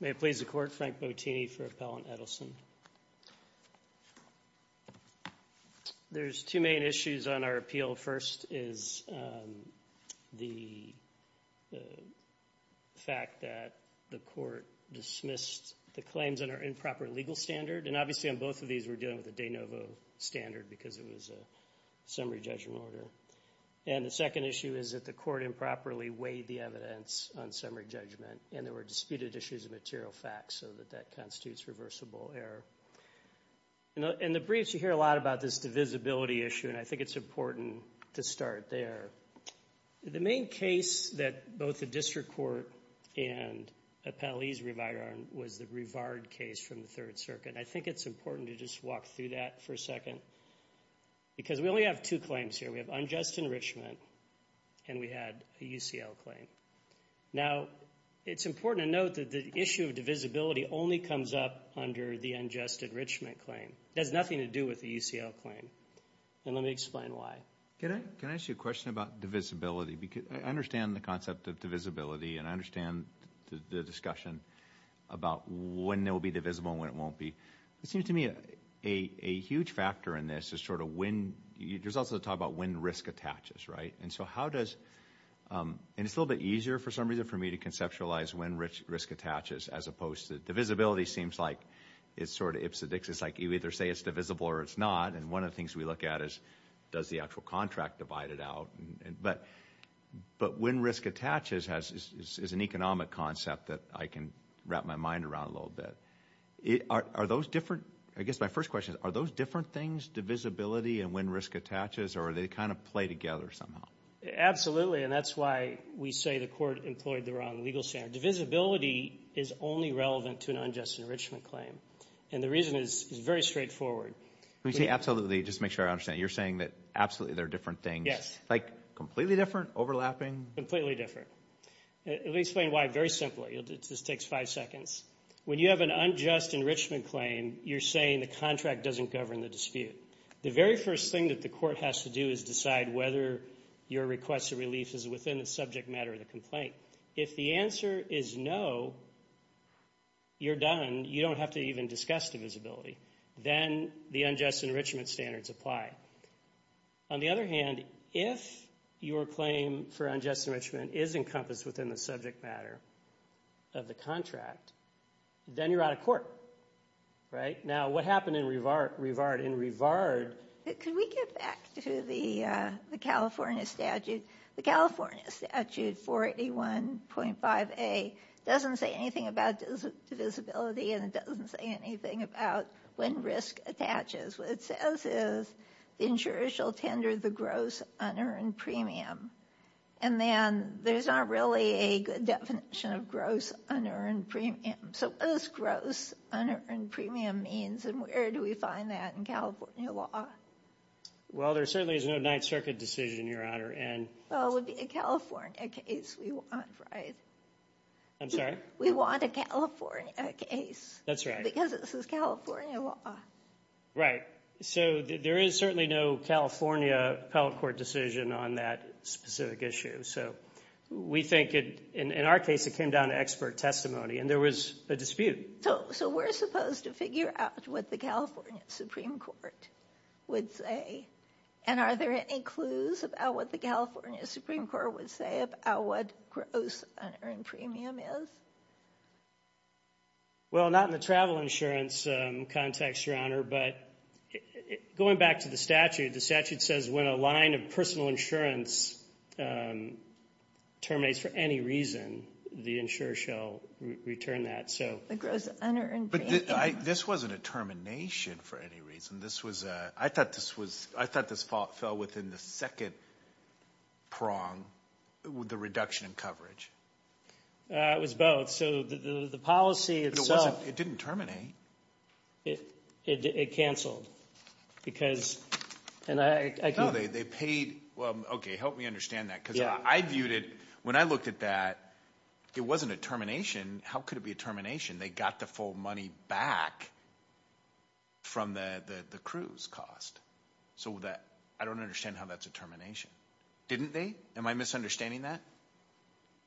May it please the Court, Frank Bottini for Appellant Edelson. There's two main issues on our appeal. First is the fact that the Court dismissed the claims under improper legal standard, and obviously on both of these we're dealing with a de novo standard because it was a summary judgment order. The second issue is that the Court improperly weighed the evidence on summary judgment and there were disputed issues of material facts, so that that constitutes reversible error. In the briefs, you hear a lot about this divisibility issue, and I think it's important to start there. The main case that both the District Court and Appellees Revideron was the Rivard case from the Third Circuit. I think it's important to just walk through that for a second because we only have two claims here. We have unjust enrichment, and we had a UCL claim. Now it's important to note that the issue of divisibility only comes up under the unjust enrichment claim. It has nothing to do with the UCL claim, and let me explain why. Can I ask you a question about divisibility? I understand the concept of divisibility and I understand the discussion about when it will be divisible and when it won't be. It seems to me a huge factor in this is sort of when – there's also the talk about when risk attaches, right? And so how does – and it's a little bit easier for some reason for me to conceptualize when risk attaches as opposed to – divisibility seems like it's sort of ipsedix. It's like you either say it's divisible or it's not, and one of the things we look at is does the actual contract divide it out. But when risk attaches is an economic concept that I can wrap my mind around a little bit. Are those different – I guess my first question is are those different things, divisibility and when risk attaches, or do they kind of play together somehow? Absolutely, and that's why we say the court employed the wrong legal standard. Divisibility is only relevant to an unjust enrichment claim, and the reason is very straightforward. When you say absolutely, just to make sure I understand, you're saying that absolutely they're different things? Yes. Like completely different? Overlapping? Completely different. Let me explain why very simply. It just takes five seconds. When you have an unjust enrichment claim, you're saying the contract doesn't govern the dispute. The very first thing that the court has to do is decide whether your request of relief is within the subject matter of the complaint. If the answer is no, you're done. You don't have to even discuss divisibility. Then the unjust enrichment standards apply. On the other hand, if your claim for unjust enrichment is encompassed within the subject matter of the contract, then you're out of court. Now what happened in Rivard? In Rivard... Could we get back to the California statute? The California statute 481.5A doesn't say anything about divisibility, and it doesn't say anything about when risk attaches. What it says is the insurer shall tender the gross unearned premium, and then there's not really a good definition of gross unearned premium. So what does gross unearned premium mean, and where do we find that in California law? Well, there certainly is no Ninth Circuit decision, Your Honor, and... Well, it would be a California case we want, right? I'm sorry? We want a California case. That's right. Because this is California law. Right. So there is certainly no California appellate court decision on that specific issue. We think, in our case, it came down to expert testimony, and there was a dispute. So we're supposed to figure out what the California Supreme Court would say, and are there any clues about what the California Supreme Court would say about what gross unearned premium is? Well, not in the travel insurance context, Your Honor, but going back to the statute, the statute says when a line of personal insurance terminates for any reason, the insurer shall return that. So... The gross unearned premium... But this wasn't a termination for any reason. This was a... I thought this was... I thought this fell within the second prong, the reduction in coverage. It was both. So the policy itself... But it didn't terminate. It canceled. Because... And I... No, they paid... Well, okay. Help me understand that. Yeah. Because I viewed it... When I looked at that, it wasn't a termination. How could it be a termination? They got the full money back from the cruise cost. So that... I don't understand how that's a termination. Didn't they? Am I misunderstanding that?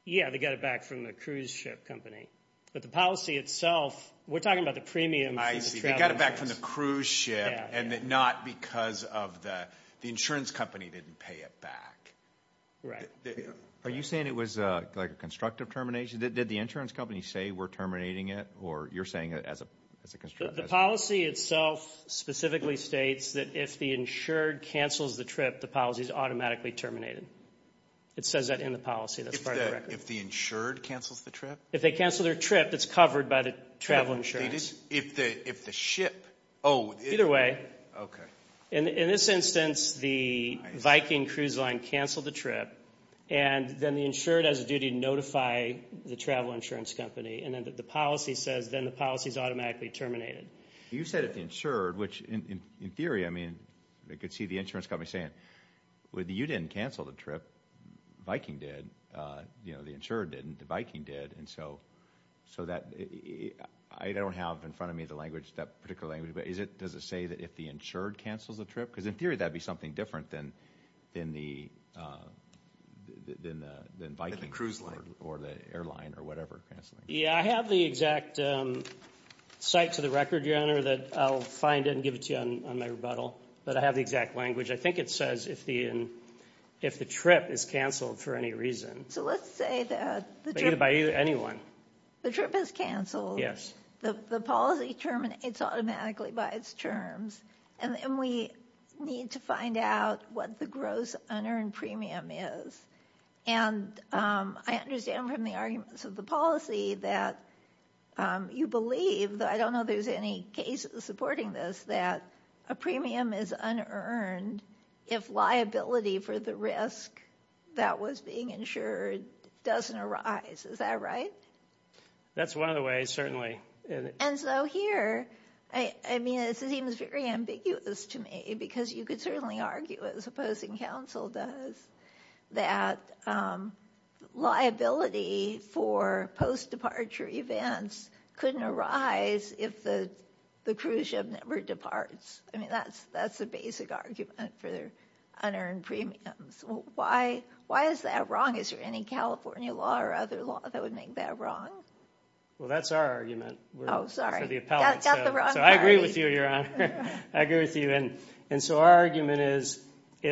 Yeah, they got it back from the cruise ship company. But the policy itself... We're talking about the premium... I see. They got it back from the cruise ship and not because the insurance company didn't pay it back. Right. Are you saying it was like a constructive termination? Did the insurance company say, we're terminating it? Or you're saying it as a... The policy itself specifically states that if the insured cancels the trip, the policy is automatically terminated. It says that in the policy. That's part of the record. If the insured cancels the trip? If they cancel their trip, it's covered by the travel insurance. If the ship... Either way. Okay. In this instance, the Viking cruise line canceled the trip. And then the insured has a duty to notify the travel insurance company. And then the policy says, then the policy is automatically terminated. You said if the insured, which in theory, I mean, they could see the insurance company saying, well, you didn't cancel the trip, Viking did, the insured didn't, the Viking did. And so that... I don't have in front of me the language, that particular language, but is it, does it say that if the insured cancels the trip? Because in theory, that'd be something different than the Viking or the airline or whatever canceling. Yeah. I have the exact cite to the record, your honor, that I'll find it and give it to you on my rebuttal. But I have the exact language. I think it says if the trip is canceled for any reason. So let's say that the trip is canceled, the policy terminates automatically by its terms. And then we need to find out what the gross unearned premium is. And I understand from the arguments of the policy that you believe, though I don't know there's any cases supporting this, that a premium is unearned if liability for the risk that was being insured doesn't arise. Is that right? That's one of the ways, certainly. And so here, I mean, it seems very ambiguous to me because you could certainly argue, as opposing counsel does, that liability for post-departure events couldn't arise if the cruise ship never departs. I mean, that's, that's the basic argument for their unearned premiums. Why is that wrong? Is there any California law or other law that would make that wrong? Well, that's our argument. Oh, sorry. We're the appellate. Got the wrong party. So I agree with you, Your Honor. I agree with you. And so our argument is, yeah,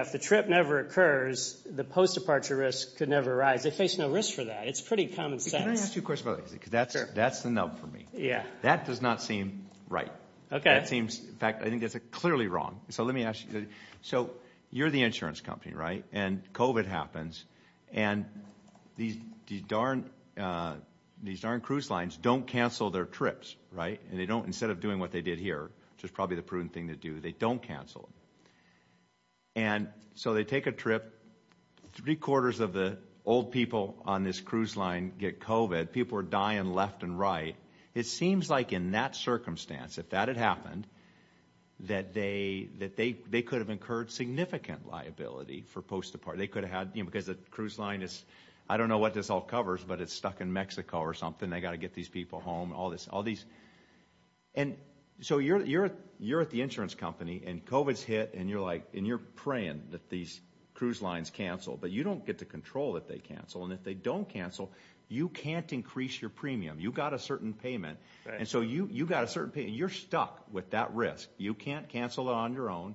if the trip never occurs, the post-departure risk could never arise. They face no risk for that. It's pretty common sense. Can I ask you a question about that? Sure. Because that's the nub for me. Yeah. That does not seem right. Okay. That seems, in fact, I think that's clearly wrong. So let me ask you. So you're the insurance company, right? And COVID happens. And these darn, these darn cruise lines don't cancel their trips, right? And they don't, instead of doing what they did here, which is probably the prudent thing to do, they don't cancel. And so they take a trip, three quarters of the old people on this cruise line get COVID. People are dying left and right. It seems like in that circumstance, if that had happened, that they could have incurred significant liability for post-departure. They could have had, because the cruise line is, I don't know what this all covers, but it's stuck in Mexico or something. They got to get these people home, all this, all these. And so you're at the insurance company and COVID's hit and you're like, and you're praying that these cruise lines cancel, but you don't get to control that they cancel. And if they don't cancel, you can't increase your premium. You got a certain payment. And so you, you got a certain pay and you're stuck with that risk. You can't cancel it on your own.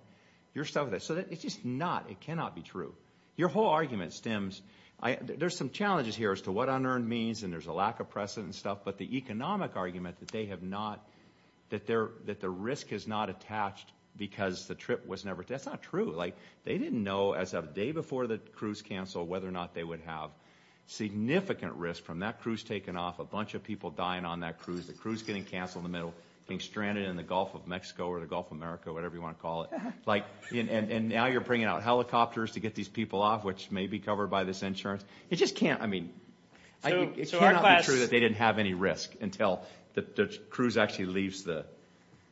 You're stuck with it. So it's just not, it cannot be true. Your whole argument stems, I, there's some challenges here as to what unearned means and there's a lack of precedent and stuff, but the economic argument that they have not, that they're, that the risk is not attached because the trip was never, that's not true. Like they didn't know as of the day before the cruise canceled, whether or not they would have significant risk from that cruise taken off, a bunch of people dying on that cruise, the cruise getting canceled in the middle, being stranded in the Gulf of Mexico or the Gulf of America, whatever you want to call it. Like, and now you're bringing out helicopters to get these people off, which may be covered by this insurance. It just can't, I mean, it cannot be true that they didn't have any risk until the cruise actually leaves the,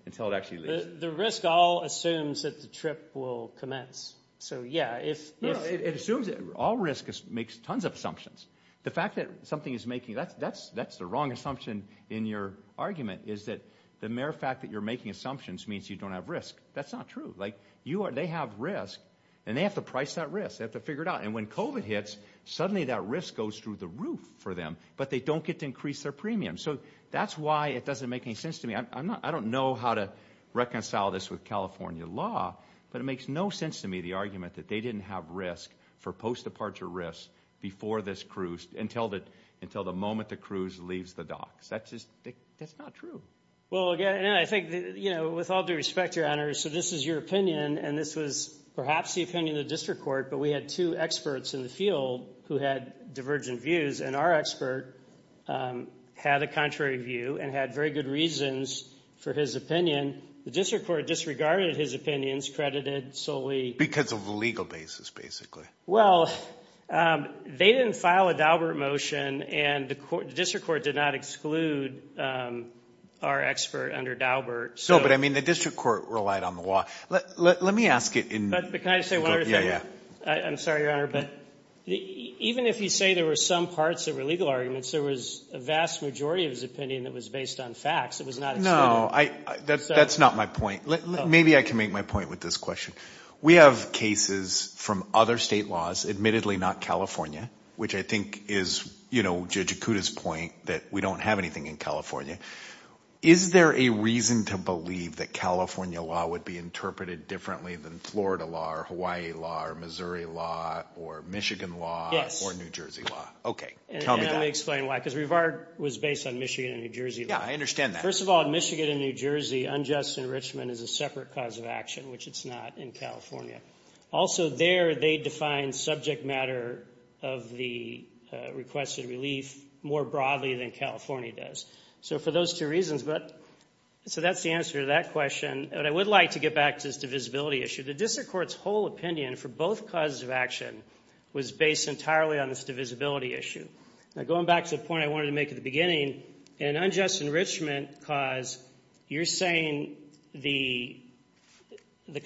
until it actually leaves. The risk all assumes that the trip will commence. So yeah, it's. No, it assumes that all risk makes tons of assumptions. The fact that something is making, that's, that's, that's the wrong assumption in your argument is that the mere fact that you're making assumptions means you don't have risk. That's not true. Like you are, they have risk and they have to price that risk. They have to figure it out. And when COVID hits, suddenly that risk goes through the roof for them, but they don't get to increase their premium. So that's why it doesn't make any sense to me. I'm not, I don't know how to reconcile this with California law, but it makes no sense to me, the argument that they didn't have risk for post-departure risk before this cruise until the, until the moment the cruise leaves the docks, that's just, that's not true. Well, again, and I think, you know, with all due respect, Your Honor, so this is your opinion and this was perhaps the opinion of the district court, but we had two experts in the field who had divergent views and our expert had a contrary view and had very good reasons for his opinion. And the district court disregarded his opinions, credited solely. Because of the legal basis, basically. Well, they didn't file a Daubert motion and the district court did not exclude our expert under Daubert. No, but I mean, the district court relied on the law. Let me ask it in. But can I just say one other thing? Yeah, yeah. I'm sorry, Your Honor, but even if you say there were some parts that were legal arguments, there was a vast majority of his opinion that was based on facts. It was not excluded. No, that's not my point. Maybe I can make my point with this question. We have cases from other state laws, admittedly not California, which I think is, you know, Judge Ikuda's point that we don't have anything in California. Is there a reason to believe that California law would be interpreted differently than Florida law or Hawaii law or Missouri law or Michigan law or New Jersey law? Okay, tell me that. And let me explain why. Because Revard was based on Michigan and New Jersey law. Yeah, I understand that. First of all, in Michigan and New Jersey, unjust enrichment is a separate cause of action, which it's not in California. Also there, they define subject matter of the requested relief more broadly than California does. So for those two reasons, but so that's the answer to that question, but I would like to get back to this divisibility issue. The district court's whole opinion for both causes of action was based entirely on this divisibility issue. Now going back to the point I wanted to make at the beginning, an unjust enrichment cause, you're saying the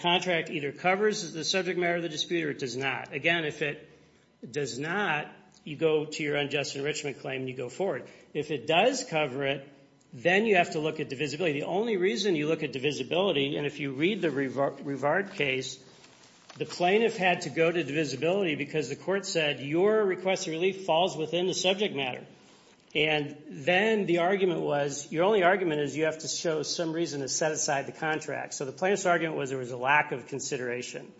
contract either covers the subject matter of the dispute or it does not. Again, if it does not, you go to your unjust enrichment claim and you go forward. If it does cover it, then you have to look at divisibility. The only reason you look at divisibility, and if you read the Revard case, the plaintiff had to go to divisibility because the court said your requested relief falls within the subject matter. And then the argument was, your only argument is you have to show some reason to set aside the contract. So the plaintiff's argument was there was a lack of consideration.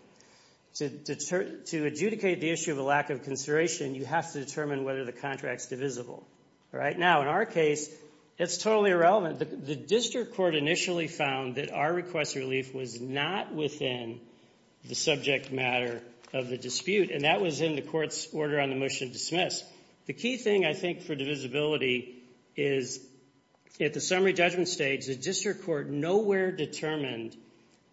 To adjudicate the issue of a lack of consideration, you have to determine whether the contract's divisible. All right? Now in our case, it's totally irrelevant. The district court initially found that our requested relief was not within the subject matter of the dispute, and that was in the court's order on the motion to dismiss. The key thing, I think, for divisibility is at the summary judgment stage, the district court nowhere determined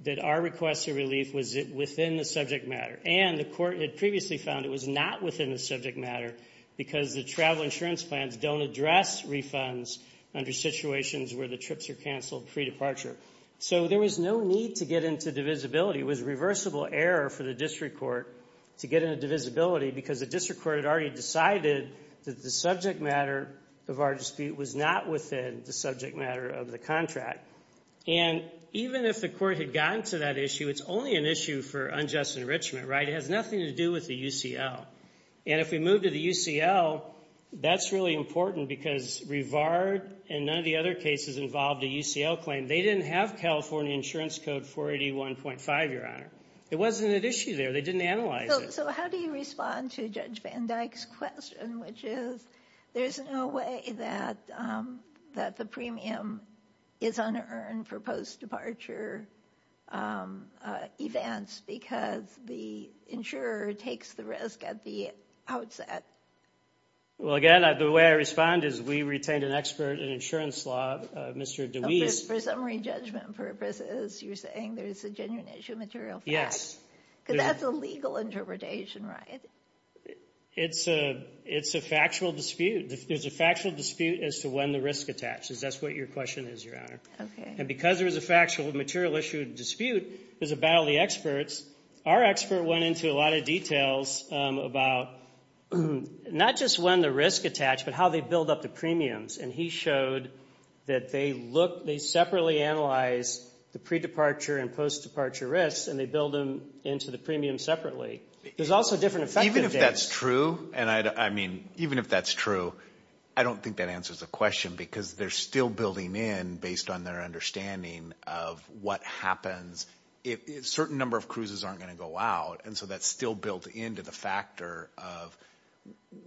that our requested relief was within the subject matter. And the court had previously found it was not within the subject matter because the travel insurance plans don't address refunds under situations where the trips are canceled pre-departure. So there was no need to get into divisibility. It was a reversible error for the district court to get into divisibility because the district court had already decided that the subject matter of our dispute was not within the subject matter of the contract. And even if the court had gotten to that issue, it's only an issue for unjust enrichment, right? It has nothing to do with the UCL. And if we move to the UCL, that's really important because Rivard and none of the other cases involved a UCL claim. They didn't have California Insurance Code 481.5, Your Honor. It wasn't an issue there. They didn't analyze it. So how do you respond to Judge Van Dyke's question, which is there's no way that the premium is unearned for post-departure events because the insurer takes the risk at the Well, again, the way I respond is we retained an expert in insurance law, Mr. DeWeese. For summary judgment purposes, you're saying there's a genuine issue of material facts? Because that's a legal interpretation, right? It's a factual dispute. There's a factual dispute as to when the risk attaches. That's what your question is, Your Honor. And because there was a factual material issue dispute, there's a battle of the experts. Our expert went into a lot of details about not just when the risk attached, but how they build up the premiums. And he showed that they separately analyze the pre-departure and post-departure risks and they build them into the premiums separately. There's also different effective dates. Even if that's true, and I mean, even if that's true, I don't think that answers the question because they're still building in based on their understanding of what happens if a certain number of cruises aren't going to go out. And so that's still built into the factor of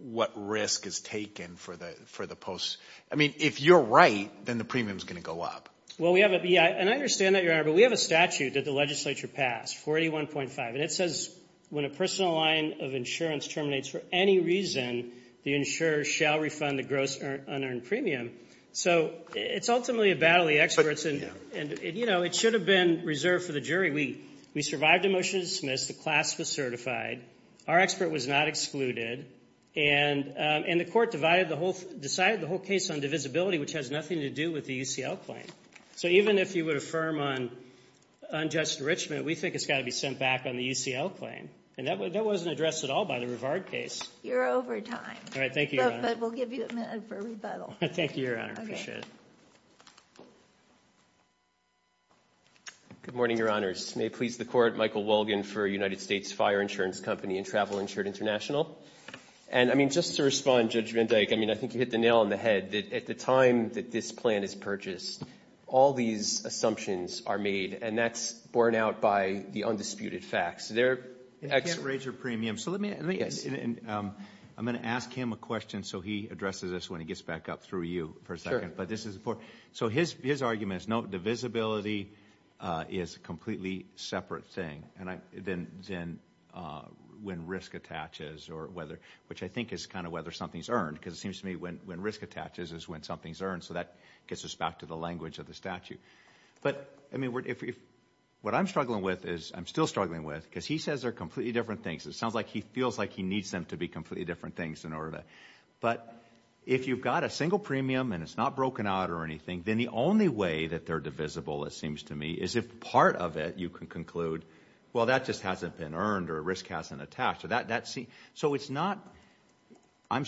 what risk is taken for the post. I mean, if you're right, then the premium is going to go up. Well, we have a, and I understand that, Your Honor, but we have a statute that the legislature passed, 41.5. And it says when a personal line of insurance terminates for any reason, the insurer shall refund the gross unearned premium. So it's ultimately a battle of the experts and, you know, it should have been reserved for the jury. We survived a motion to dismiss, the class was certified, our expert was not excluded, and the court decided the whole case on divisibility, which has nothing to do with the UCL claim. So even if you would affirm on unjust enrichment, we think it's got to be sent back on the UCL claim. And that wasn't addressed at all by the Rivard case. You're over time. All right. Thank you, Your Honor. But we'll give you a minute for rebuttal. Thank you, Your Honor. Appreciate it. Okay. Good morning, Your Honors. May it please the Court, Michael Wolgan for United States Fire Insurance Company and Travel Insured International. And I mean, just to respond, Judge Van Dyke, I mean, I think you hit the nail on the head. At the time that this plan is purchased, all these assumptions are made, and that's borne out by the undisputed facts. They're ex- It can't raise your premium. So let me ask him a question so he addresses this when he gets back up through you for a second. So his argument is, no, divisibility is a completely separate thing than when risk attaches or whether, which I think is kind of whether something's earned, because it seems to me when risk attaches is when something's earned. So that gets us back to the language of the statute. But I mean, what I'm struggling with is, I'm still struggling with, because he says they're completely different things. It sounds like he feels like he needs them to be completely different things in order to. But if you've got a single premium and it's not broken out or anything, then the only way that they're divisible, it seems to me, is if part of it, you can conclude, well, that just hasn't been earned or risk hasn't attached. So it's not, I'm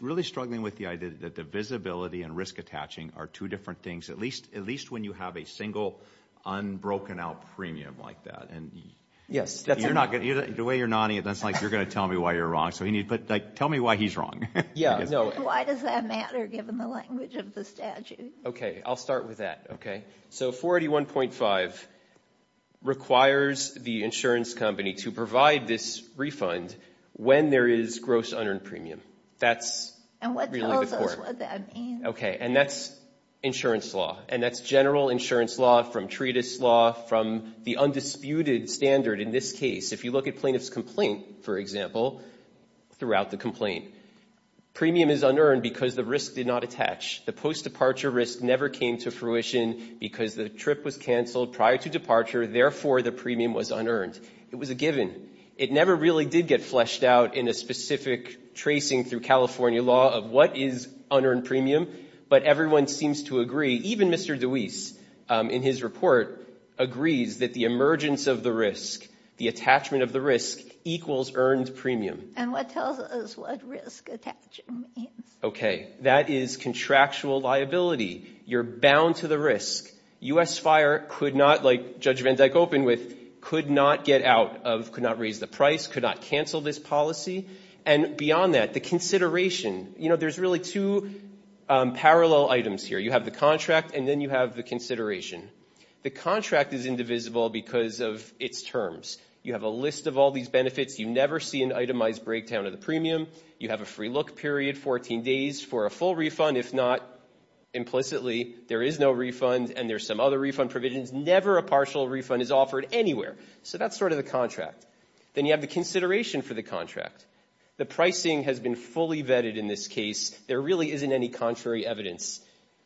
really struggling with the idea that the visibility and risk attaching are two different things, at least when you have a single unbroken out premium like that. And you're not going to, the way you're nodding, it looks like you're going to tell me why you're wrong. So you need, but tell me why he's wrong. Yeah. No. Why does that matter given the language of the statute? Okay. I'll start with that. Okay. So 481.5 requires the insurance company to provide this refund when there is gross unearned premium. That's really the court. And what tells us what that means? Okay. And that's insurance law. And that's general insurance law from treatise law from the undisputed standard in this case. If you look at plaintiff's complaint, for example, throughout the complaint, premium is unearned because the risk did not attach. The post-departure risk never came to fruition because the trip was canceled prior to departure. Therefore, the premium was unearned. It was a given. It never really did get fleshed out in a specific tracing through California law of what is unearned premium. But everyone seems to agree, even Mr. DeWeese in his report, agrees that the emergence of the risk, the attachment of the risk equals earned premium. And what tells us what risk attachment means? Okay. That is contractual liability. You're bound to the risk. U.S. Fire could not, like Judge Van Dyke opened with, could not get out of, could not raise the price, could not cancel this policy. And beyond that, the consideration, you know, there's really two parallel items here. You have the contract and then you have the consideration. The contract is indivisible because of its terms. You have a list of all these benefits. You never see an itemized breakdown of the premium. You have a free look period, 14 days for a full refund. If not, implicitly, there is no refund and there's some other refund provisions. Never a partial refund is offered anywhere. So that's sort of the contract. Then you have the consideration for the contract. The pricing has been fully vetted in this case. There really isn't any contrary evidence.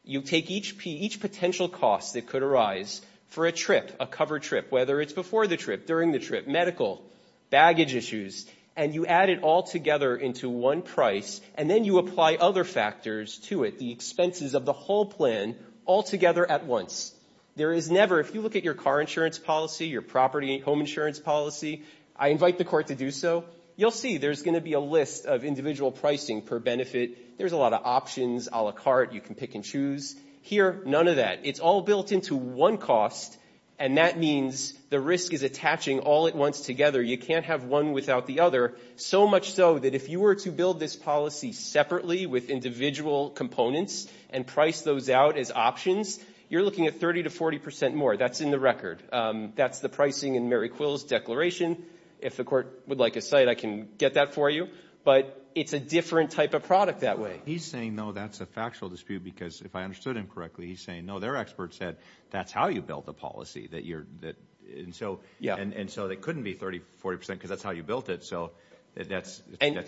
You take each potential cost that could arise for a trip, a covered trip, whether it's before the trip, during the trip, medical, baggage issues, and you add it all together into one price and then you apply other factors to it, the expenses of the whole plan, all together at once. There is never, if you look at your car insurance policy, your property home insurance policy, I invite the court to do so, you'll see there's going to be a list of individual pricing per benefit. There's a lot of options a la carte. You can pick and choose. Here, none of that. It's all built into one cost, and that means the risk is attaching all at once together. You can't have one without the other, so much so that if you were to build this policy separately with individual components and price those out as options, you're looking at 30 to 40 percent more. That's in the record. That's the pricing in Mary Quill's declaration. If the court would like a cite, I can get that for you. But it's a different type of product that way. He's saying, though, that's a factual dispute, because if I understood him correctly, he's saying, no, their expert said that's how you built the policy, and so it couldn't be 30 to 40 percent because that's how you built it, so that's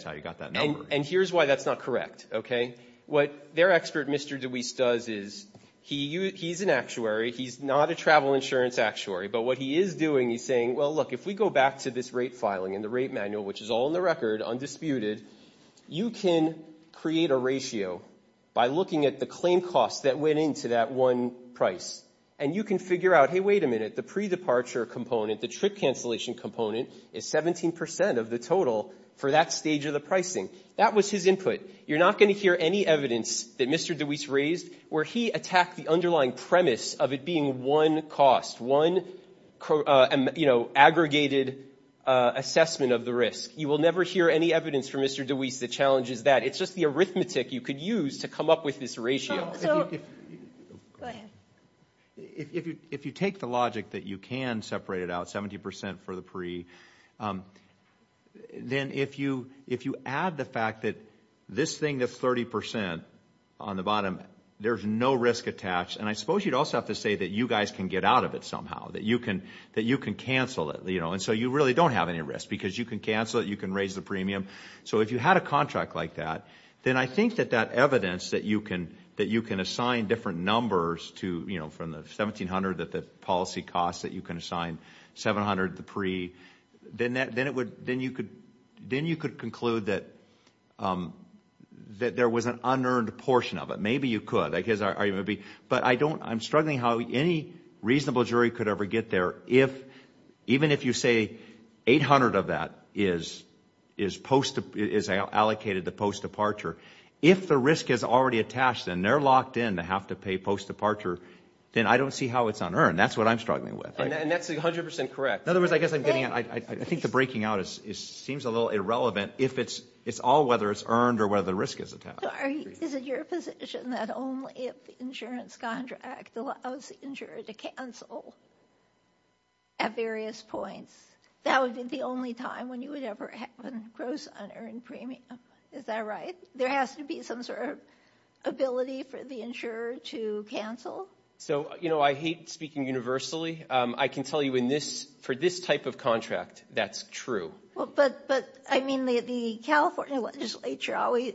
how you got that number. And here's why that's not correct. What their expert, Mr. DeWeese, does is he's an actuary. He's not a travel insurance actuary, but what he is doing, he's saying, well, look, if we go back to this rate filing and the rate manual, which is all in the record, undisputed, you can create a ratio by looking at the claim costs that went into that one price, and you can figure out, hey, wait a minute, the pre-departure component, the trip cancellation component, is 17 percent of the total for that stage of the pricing. That was his input. You're not going to hear any evidence that Mr. DeWeese raised where he attacked the underlying premise of it being one cost, one, you know, aggregated assessment of the risk. You will never hear any evidence from Mr. DeWeese that challenges that. It's just the arithmetic you could use to come up with this ratio. So, go ahead. If you take the logic that you can separate it out, 70 percent for the pre, then if you add the fact that this thing is 30 percent on the bottom, there's no risk attached, and I suppose you'd also have to say that you guys can get out of it somehow, that you can cancel it, you know, and so you really don't have any risk because you can cancel it, you can raise the premium. So, if you had a contract like that, then I think that that evidence that you can assign different numbers to, you know, from the $1,700 that the policy costs, that you can assign $700, the pre, then you could conclude that there was an unearned portion of it. Maybe you could, but I don't, I'm struggling how any reasonable jury could ever get there if, even if you say 800 of that is allocated to post-departure, if the risk is already attached and they're locked in to have to pay post-departure, then I don't see how it's unearned. That's what I'm struggling with. And that's 100 percent correct. In other words, I guess I'm getting, I think the breaking out seems a little irrelevant if it's, it's all whether it's earned or whether the risk is attached. So, is it your position that only if the insurance contract allows the insurer to cancel at various points, that would be the only time when you would ever have a gross unearned premium? Is that right? There has to be some sort of ability for the insurer to cancel? So, you know, I hate speaking universally. I can tell you in this, for this type of contract, that's true. Well, but, but, I mean, the, the California legislature always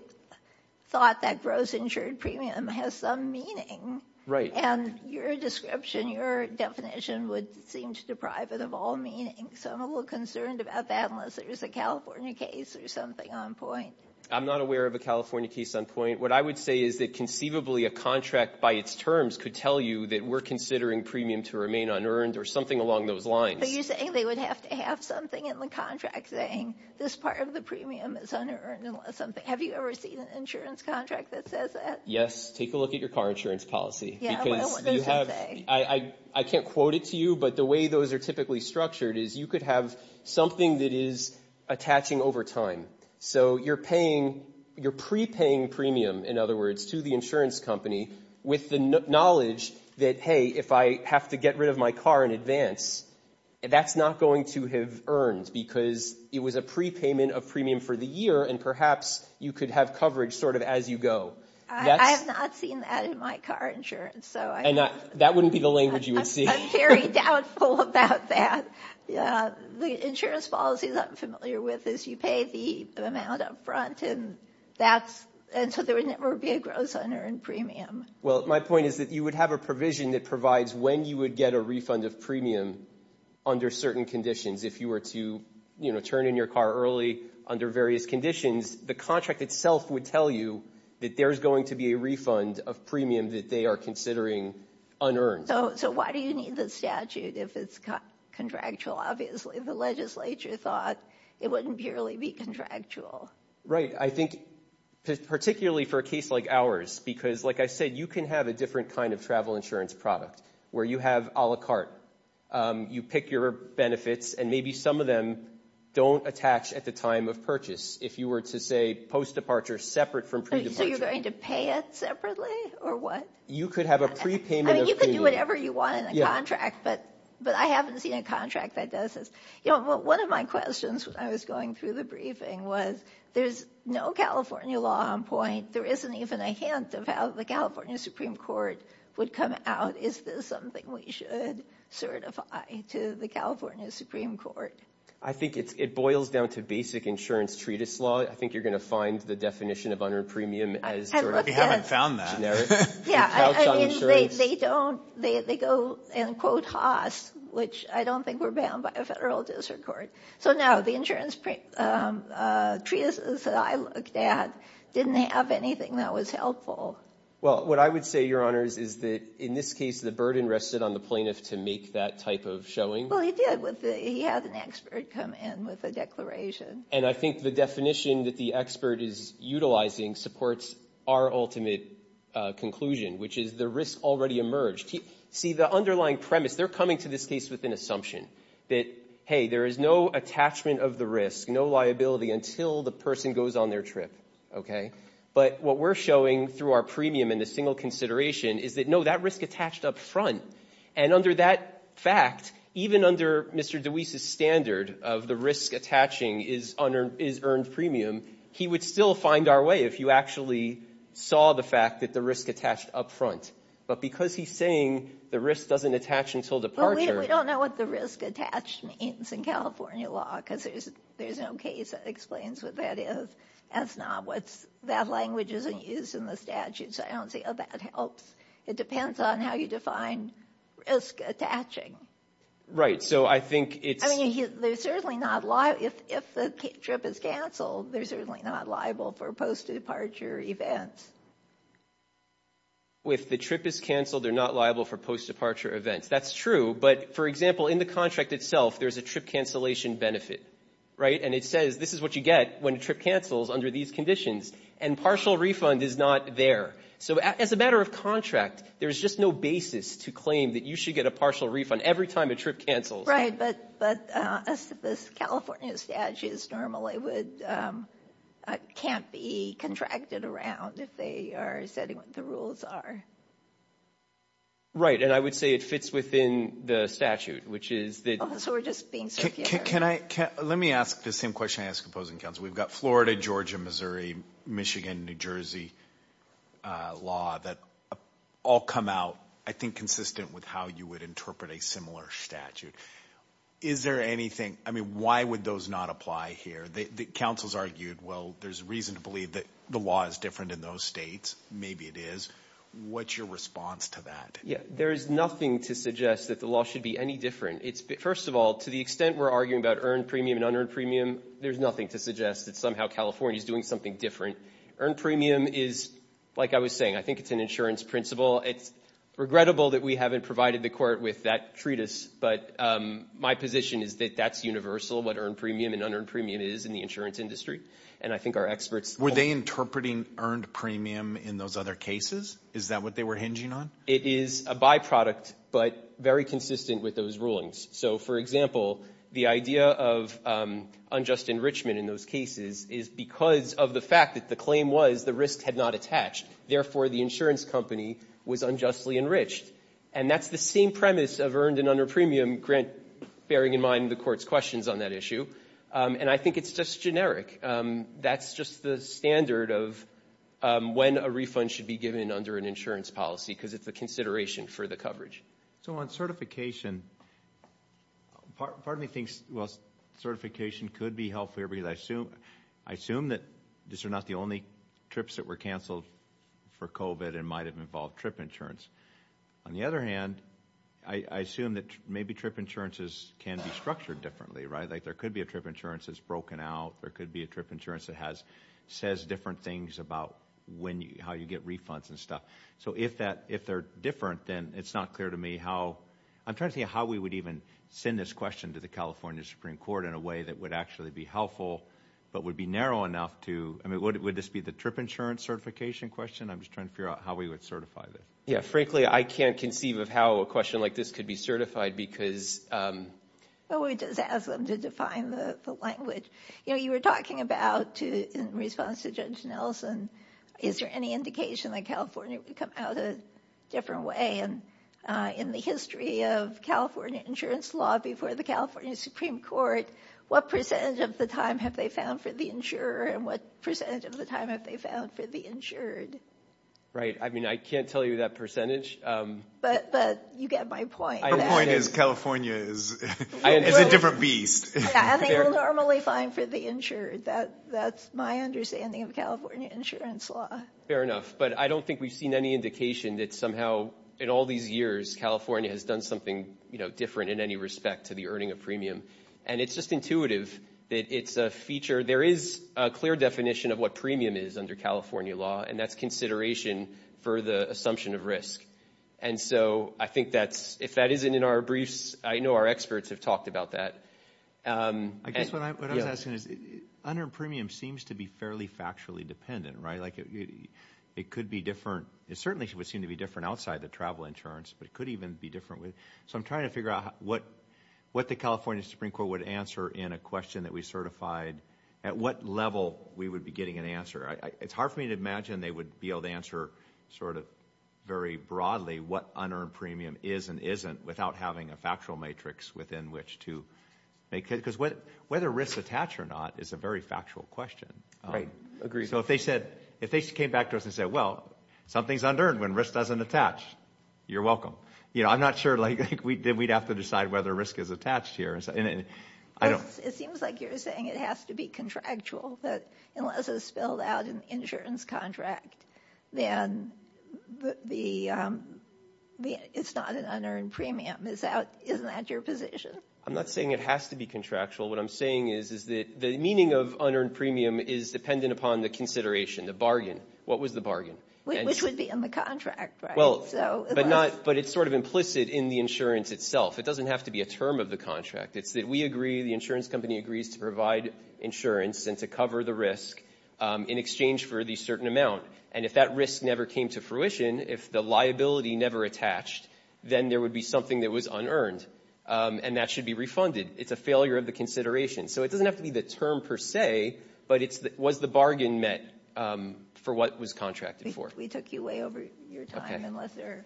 thought that gross insured premium has some meaning. Right. And your description, your definition would seem to deprive it of all meaning. So I'm a little concerned about that unless there's a California case or something on point. I'm not aware of a California case on point. What I would say is that conceivably a contract by its terms could tell you that we're considering premium to remain unearned or something along those lines. But you're saying they would have to have something in the contract saying this part of the premium is unearned unless something, have you ever seen an insurance contract that says that? Yes. Take a look at your car insurance policy. Because you have, I, I can't quote it to you, but the way those are typically structured is you could have something that is attaching over time. So you're paying, you're prepaying premium, in other words, to the insurance company with the knowledge that, hey, if I have to get rid of my car in advance, that's not going to have earned because it was a prepayment of premium for the year and perhaps you could have coverage sort of as you go. I have not seen that in my car insurance. And that wouldn't be the language you would see. I'm very doubtful about that. The insurance policy that I'm familiar with is you pay the amount up front and that's, and so there would never be a gross unearned premium. Well, my point is that you would have a provision that provides when you would get a refund of premium under certain conditions. If you were to, you know, turn in your car early under various conditions, the contract itself would tell you that there's going to be a refund of premium that they are considering unearned. So, so why do you need the statute if it's contractual? Obviously, the legislature thought it wouldn't purely be contractual. Right. I think particularly for a case like ours, because like I said, you can have a different kind of travel insurance product where you have a la carte. You pick your benefits and maybe some of them don't attach at the time of purchase. If you were to say post-departure separate from pre-departure. So you're going to pay it separately or what? You could have a prepayment of premium. I mean, you could do whatever you want in a contract, but I haven't seen a contract that does this. You know, one of my questions when I was going through the briefing was, there's no California law on point. There isn't even a hint of how the California Supreme Court would come out. Is this something we should certify to the California Supreme Court? I think it boils down to basic insurance treatise law. I think you're going to find the definition of unearned premium as sort of generic. We haven't found that. Yeah. I mean, they don't, they go and quote Haas, which I don't think we're bound by a federal district court. So no, the insurance treatises that I looked at didn't have anything that was helpful. Well, what I would say, Your Honors, is that in this case, the burden rested on the plaintiff to make that type of showing. Well, he did. He had an expert come in with a declaration. And I think the definition that the expert is utilizing supports our ultimate conclusion, which is the risk already emerged. See, the underlying premise, they're coming to this case with an assumption that, hey, there is no attachment of the risk, no liability until the person goes on their trip. Okay? But what we're showing through our premium and the single consideration is that, no, that risk attached up front. And under that fact, even under Mr. DeWeese's standard of the risk attaching is earned premium, he would still find our way if you actually saw the fact that the risk attached up front. But because he's saying the risk doesn't attach until departure... Well, we don't know what the risk attached means in California law because there's no case that explains what that is. That's not what that language is used in the statute. So I don't say, oh, that helps. It depends on how you define risk attaching. Right. So I think it's... I mean, there's certainly not... If the trip is canceled, they're certainly not liable for post-departure events. If the trip is canceled, they're not liable for post-departure events. That's true. But, for example, in the contract itself, there's a trip cancellation benefit. Right? And it says this is what you get when a trip cancels under these conditions. And partial refund is not there. So as a matter of contract, there's just no basis to claim that you should get a partial refund every time a trip cancels. But California statutes normally would... can't be contracted around if they are setting what the rules are. Right. And I would say it fits within the statute, which is that... Oh, so we're just being superior. Can I... Let me ask the same question I ask opposing counsel. We've got Florida, Georgia, Missouri, Michigan, New Jersey law that all come out, I think, consistent with how you would interpret a similar statute. Is there anything... I mean, why would those not apply here? The counsel's argued, well, there's a reason to believe that the law is different in those states. Maybe it is. What's your response to that? Yeah. There is nothing to suggest that the law should be any different. It's... First of all, to the extent we're arguing about earned premium and unearned premium, there's nothing to suggest that somehow California is doing something different. Earned premium is, like I was saying, I think it's an insurance principle. It's regrettable that we haven't provided the court with that treatise. But my position is that that's universal, what earned premium and unearned premium is. It's in the insurance industry. And I think our experts... Were they interpreting earned premium in those other cases? Is that what they were hinging on? It is a byproduct, but very consistent with those rulings. So, for example, the idea of unjust enrichment in those cases is because of the fact that the claim was the risk had not attached. Therefore, the insurance company was unjustly enriched. And that's the same premise of earned and unearned premium, bearing in mind the court's questions on that issue. And I think it's just generic. That's just the standard of when a refund should be given under an insurance policy because it's a consideration for the coverage. So on certification, part of me thinks, well, certification could be healthier because I assume that these are not the only trips that were canceled for COVID and might have involved trip insurance. On the other hand, I assume that maybe trip insurances can be structured differently, right? Like there could be a trip insurance that's broken out. There could be a trip insurance that says different things about how you get refunds and stuff. So if they're different, then it's not clear to me how... I'm trying to see how we would even send this question to the California Supreme Court in a way that would actually be helpful but would be narrow enough to... I mean, would this be the trip insurance certification question? I'm just trying to figure out how we would certify this. Yeah, frankly, I can't conceive of how a question like this could be certified because... Well, we just ask them to define the language. You know, you were talking about, in response to Judge Nelson, is there any indication that California would come out a different way in the history of California insurance law before the California Supreme Court? What percentage of the time have they found for the insurer and what percentage of the time have they found for the insured? Right. I mean, I can't tell you that percentage. But you get my point. Her point is California is a different beast. Yeah, I think we're normally fine for the insured. That's my understanding of California insurance law. Fair enough. But I don't think we've seen any indication that somehow in all these years California has done something different in any respect to the earning of premium. And it's just intuitive that it's a feature. There is a clear definition of what premium is under California law, and that's consideration for the assumption of risk. And so I think that's, if that isn't in our briefs, I know our experts have talked about that. I guess what I was asking is, unearned premium seems to be fairly factually dependent, right? Like it could be different. It certainly would seem to be different outside the travel insurance, but it could even be different. So I'm trying to figure out what the California Supreme Court would answer in a question that we certified, at what level we would be getting an answer. It's hard for me to imagine they would be able to answer sort of very broadly what unearned premium is and isn't without having a factual matrix within which to make it. Because whether risks attach or not is a very factual question. Right. Agreed. So if they came back to us and said, well, something's unearned when risk doesn't attach, you're welcome. I'm not sure we'd have to decide whether risk is attached here. It seems like you're saying it has to be contractual, but unless it's spelled out in the insurance contract, then it's not an unearned premium. Isn't that your position? I'm not saying it has to be contractual. What I'm saying is that the meaning of unearned premium is dependent upon the consideration, the bargain. What was the bargain? Which would be in the contract, right? But it's sort of implicit in the insurance itself. It doesn't have to be a term of the contract. It's that we agree, the insurance company agrees, to provide insurance and to cover the risk in exchange for the certain amount. And if that risk never came to fruition, if the liability never attached, then there would be something that was unearned, and that should be refunded. It's a failure of the consideration. So it doesn't have to be the term per se, but it's was the bargain met for what was contracted for. We took you way over your time, unless there are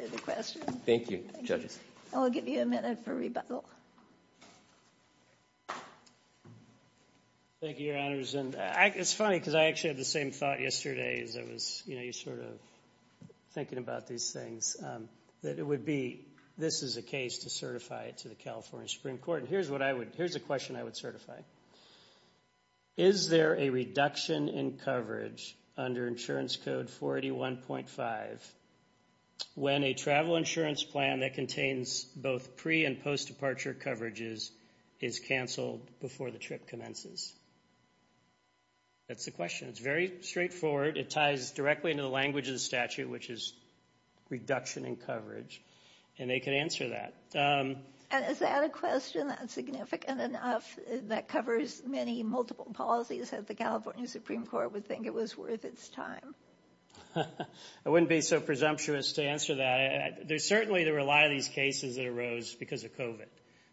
further questions. Thank you, judges. I'll give you a minute for rebuttal. Thank you, Your Honors. It's funny because I actually had the same thought yesterday as I was sort of thinking about these things, that it would be this is a case to certify it to the California Supreme Court. Here's a question I would certify. Is there a reduction in coverage under Insurance Code 481.5 when a travel insurance plan that contains both pre- and post-departure coverages is canceled before the trip commences? That's the question. It's very straightforward. It ties directly into the language of the statute, which is reduction in coverage. And they can answer that. Is that a question that's significant enough that covers many multiple policies that the California Supreme Court would think it was worth its time? I wouldn't be so presumptuous to answer that. Certainly, there were a lot of these cases that arose because of COVID.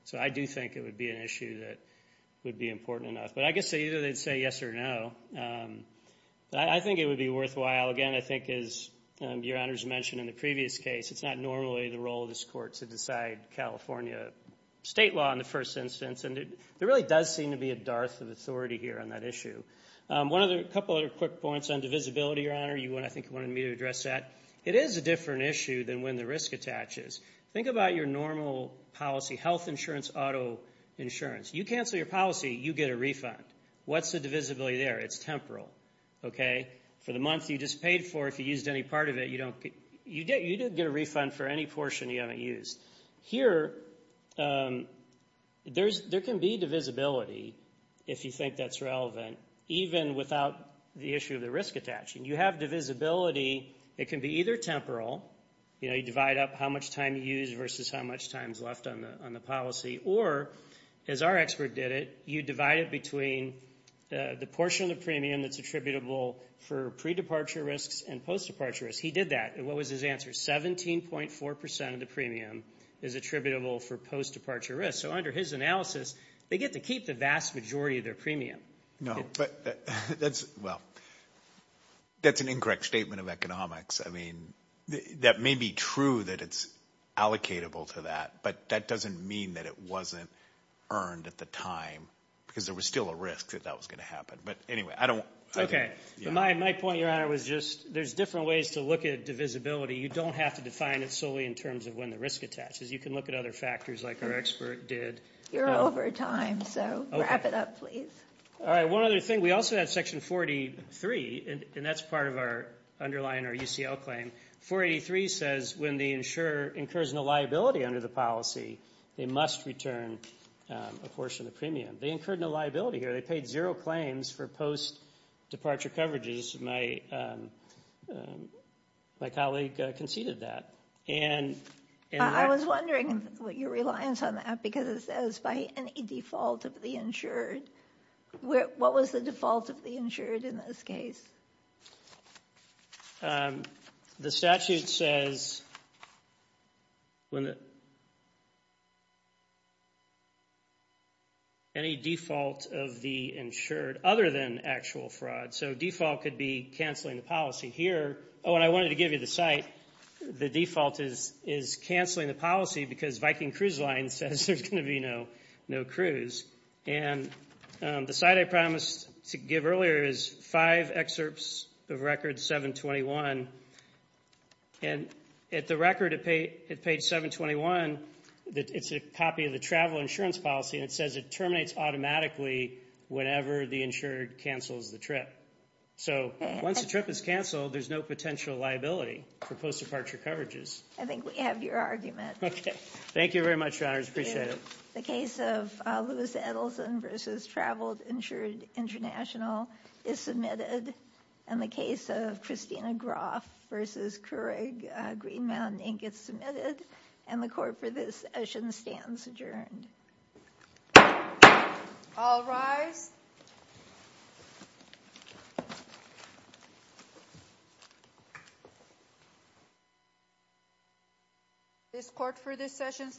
So I do think it would be an issue that would be important enough. But I guess either they'd say yes or no. I think it would be worthwhile. Again, I think as Your Honors mentioned in the previous case, it's not normally the role of this court to decide California state law in the first instance. And there really does seem to be a dearth of authority here on that issue. A couple other quick points on divisibility, Your Honor. I think you wanted me to address that. It is a different issue than when the risk attaches. Think about your normal policy, health insurance, auto insurance. You cancel your policy, you get a refund. What's the divisibility there? It's temporal. For the month you just paid for, if you used any part of it, you didn't get a refund for any portion you haven't used. Here, there can be divisibility if you think that's relevant, even without the issue of the risk attaching. You have divisibility. It can be either temporal, you know, you divide up how much time you use versus how much time is left on the policy. Or, as our expert did it, you divide it between the portion of the premium that's attributable for pre-departure risks and post-departure risks. He did that. What was his answer? 17.4% of the premium is attributable for post-departure risks. So under his analysis, they get to keep the vast majority of their premium. No, but that's an incorrect statement of economics. I mean, that may be true that it's allocatable to that, but that doesn't mean that it wasn't earned at the time because there was still a risk that that was going to happen. But anyway, I don't. Okay. My point, Your Honor, was just there's different ways to look at divisibility. You don't have to define it solely in terms of when the risk attaches. You can look at other factors like our expert did. You're over time, so wrap it up, please. All right. One other thing. We also had Section 43, and that's part of our underlying or UCL claim. 483 says when the insurer incurs no liability under the policy, they must return a portion of the premium. They incurred no liability here. They paid zero claims for post-departure coverages. My colleague conceded that. I was wondering what your reliance on that, because it says by any default of the insured. What was the default of the insured in this case? The statute says any default of the insured other than actual fraud. So default could be canceling the policy here. Oh, and I wanted to give you the site. The default is canceling the policy because Viking Cruise Line says there's going to be no cruise. And the site I promised to give earlier is five excerpts of Record 721. And at the record at page 721, it's a copy of the travel insurance policy, and it says it terminates automatically whenever the insured cancels the trip. So once the trip is canceled, there's no potential liability for post-departure coverages. I think we have your argument. Thank you very much, Your Honors. I appreciate it. The case of Lewis Edelson v. Traveled Insured International is submitted, and the case of Christina Groff v. Keurig Green Mountain Inc. is submitted, and the court for this session stands adjourned. All rise. This court for this session stands adjourned.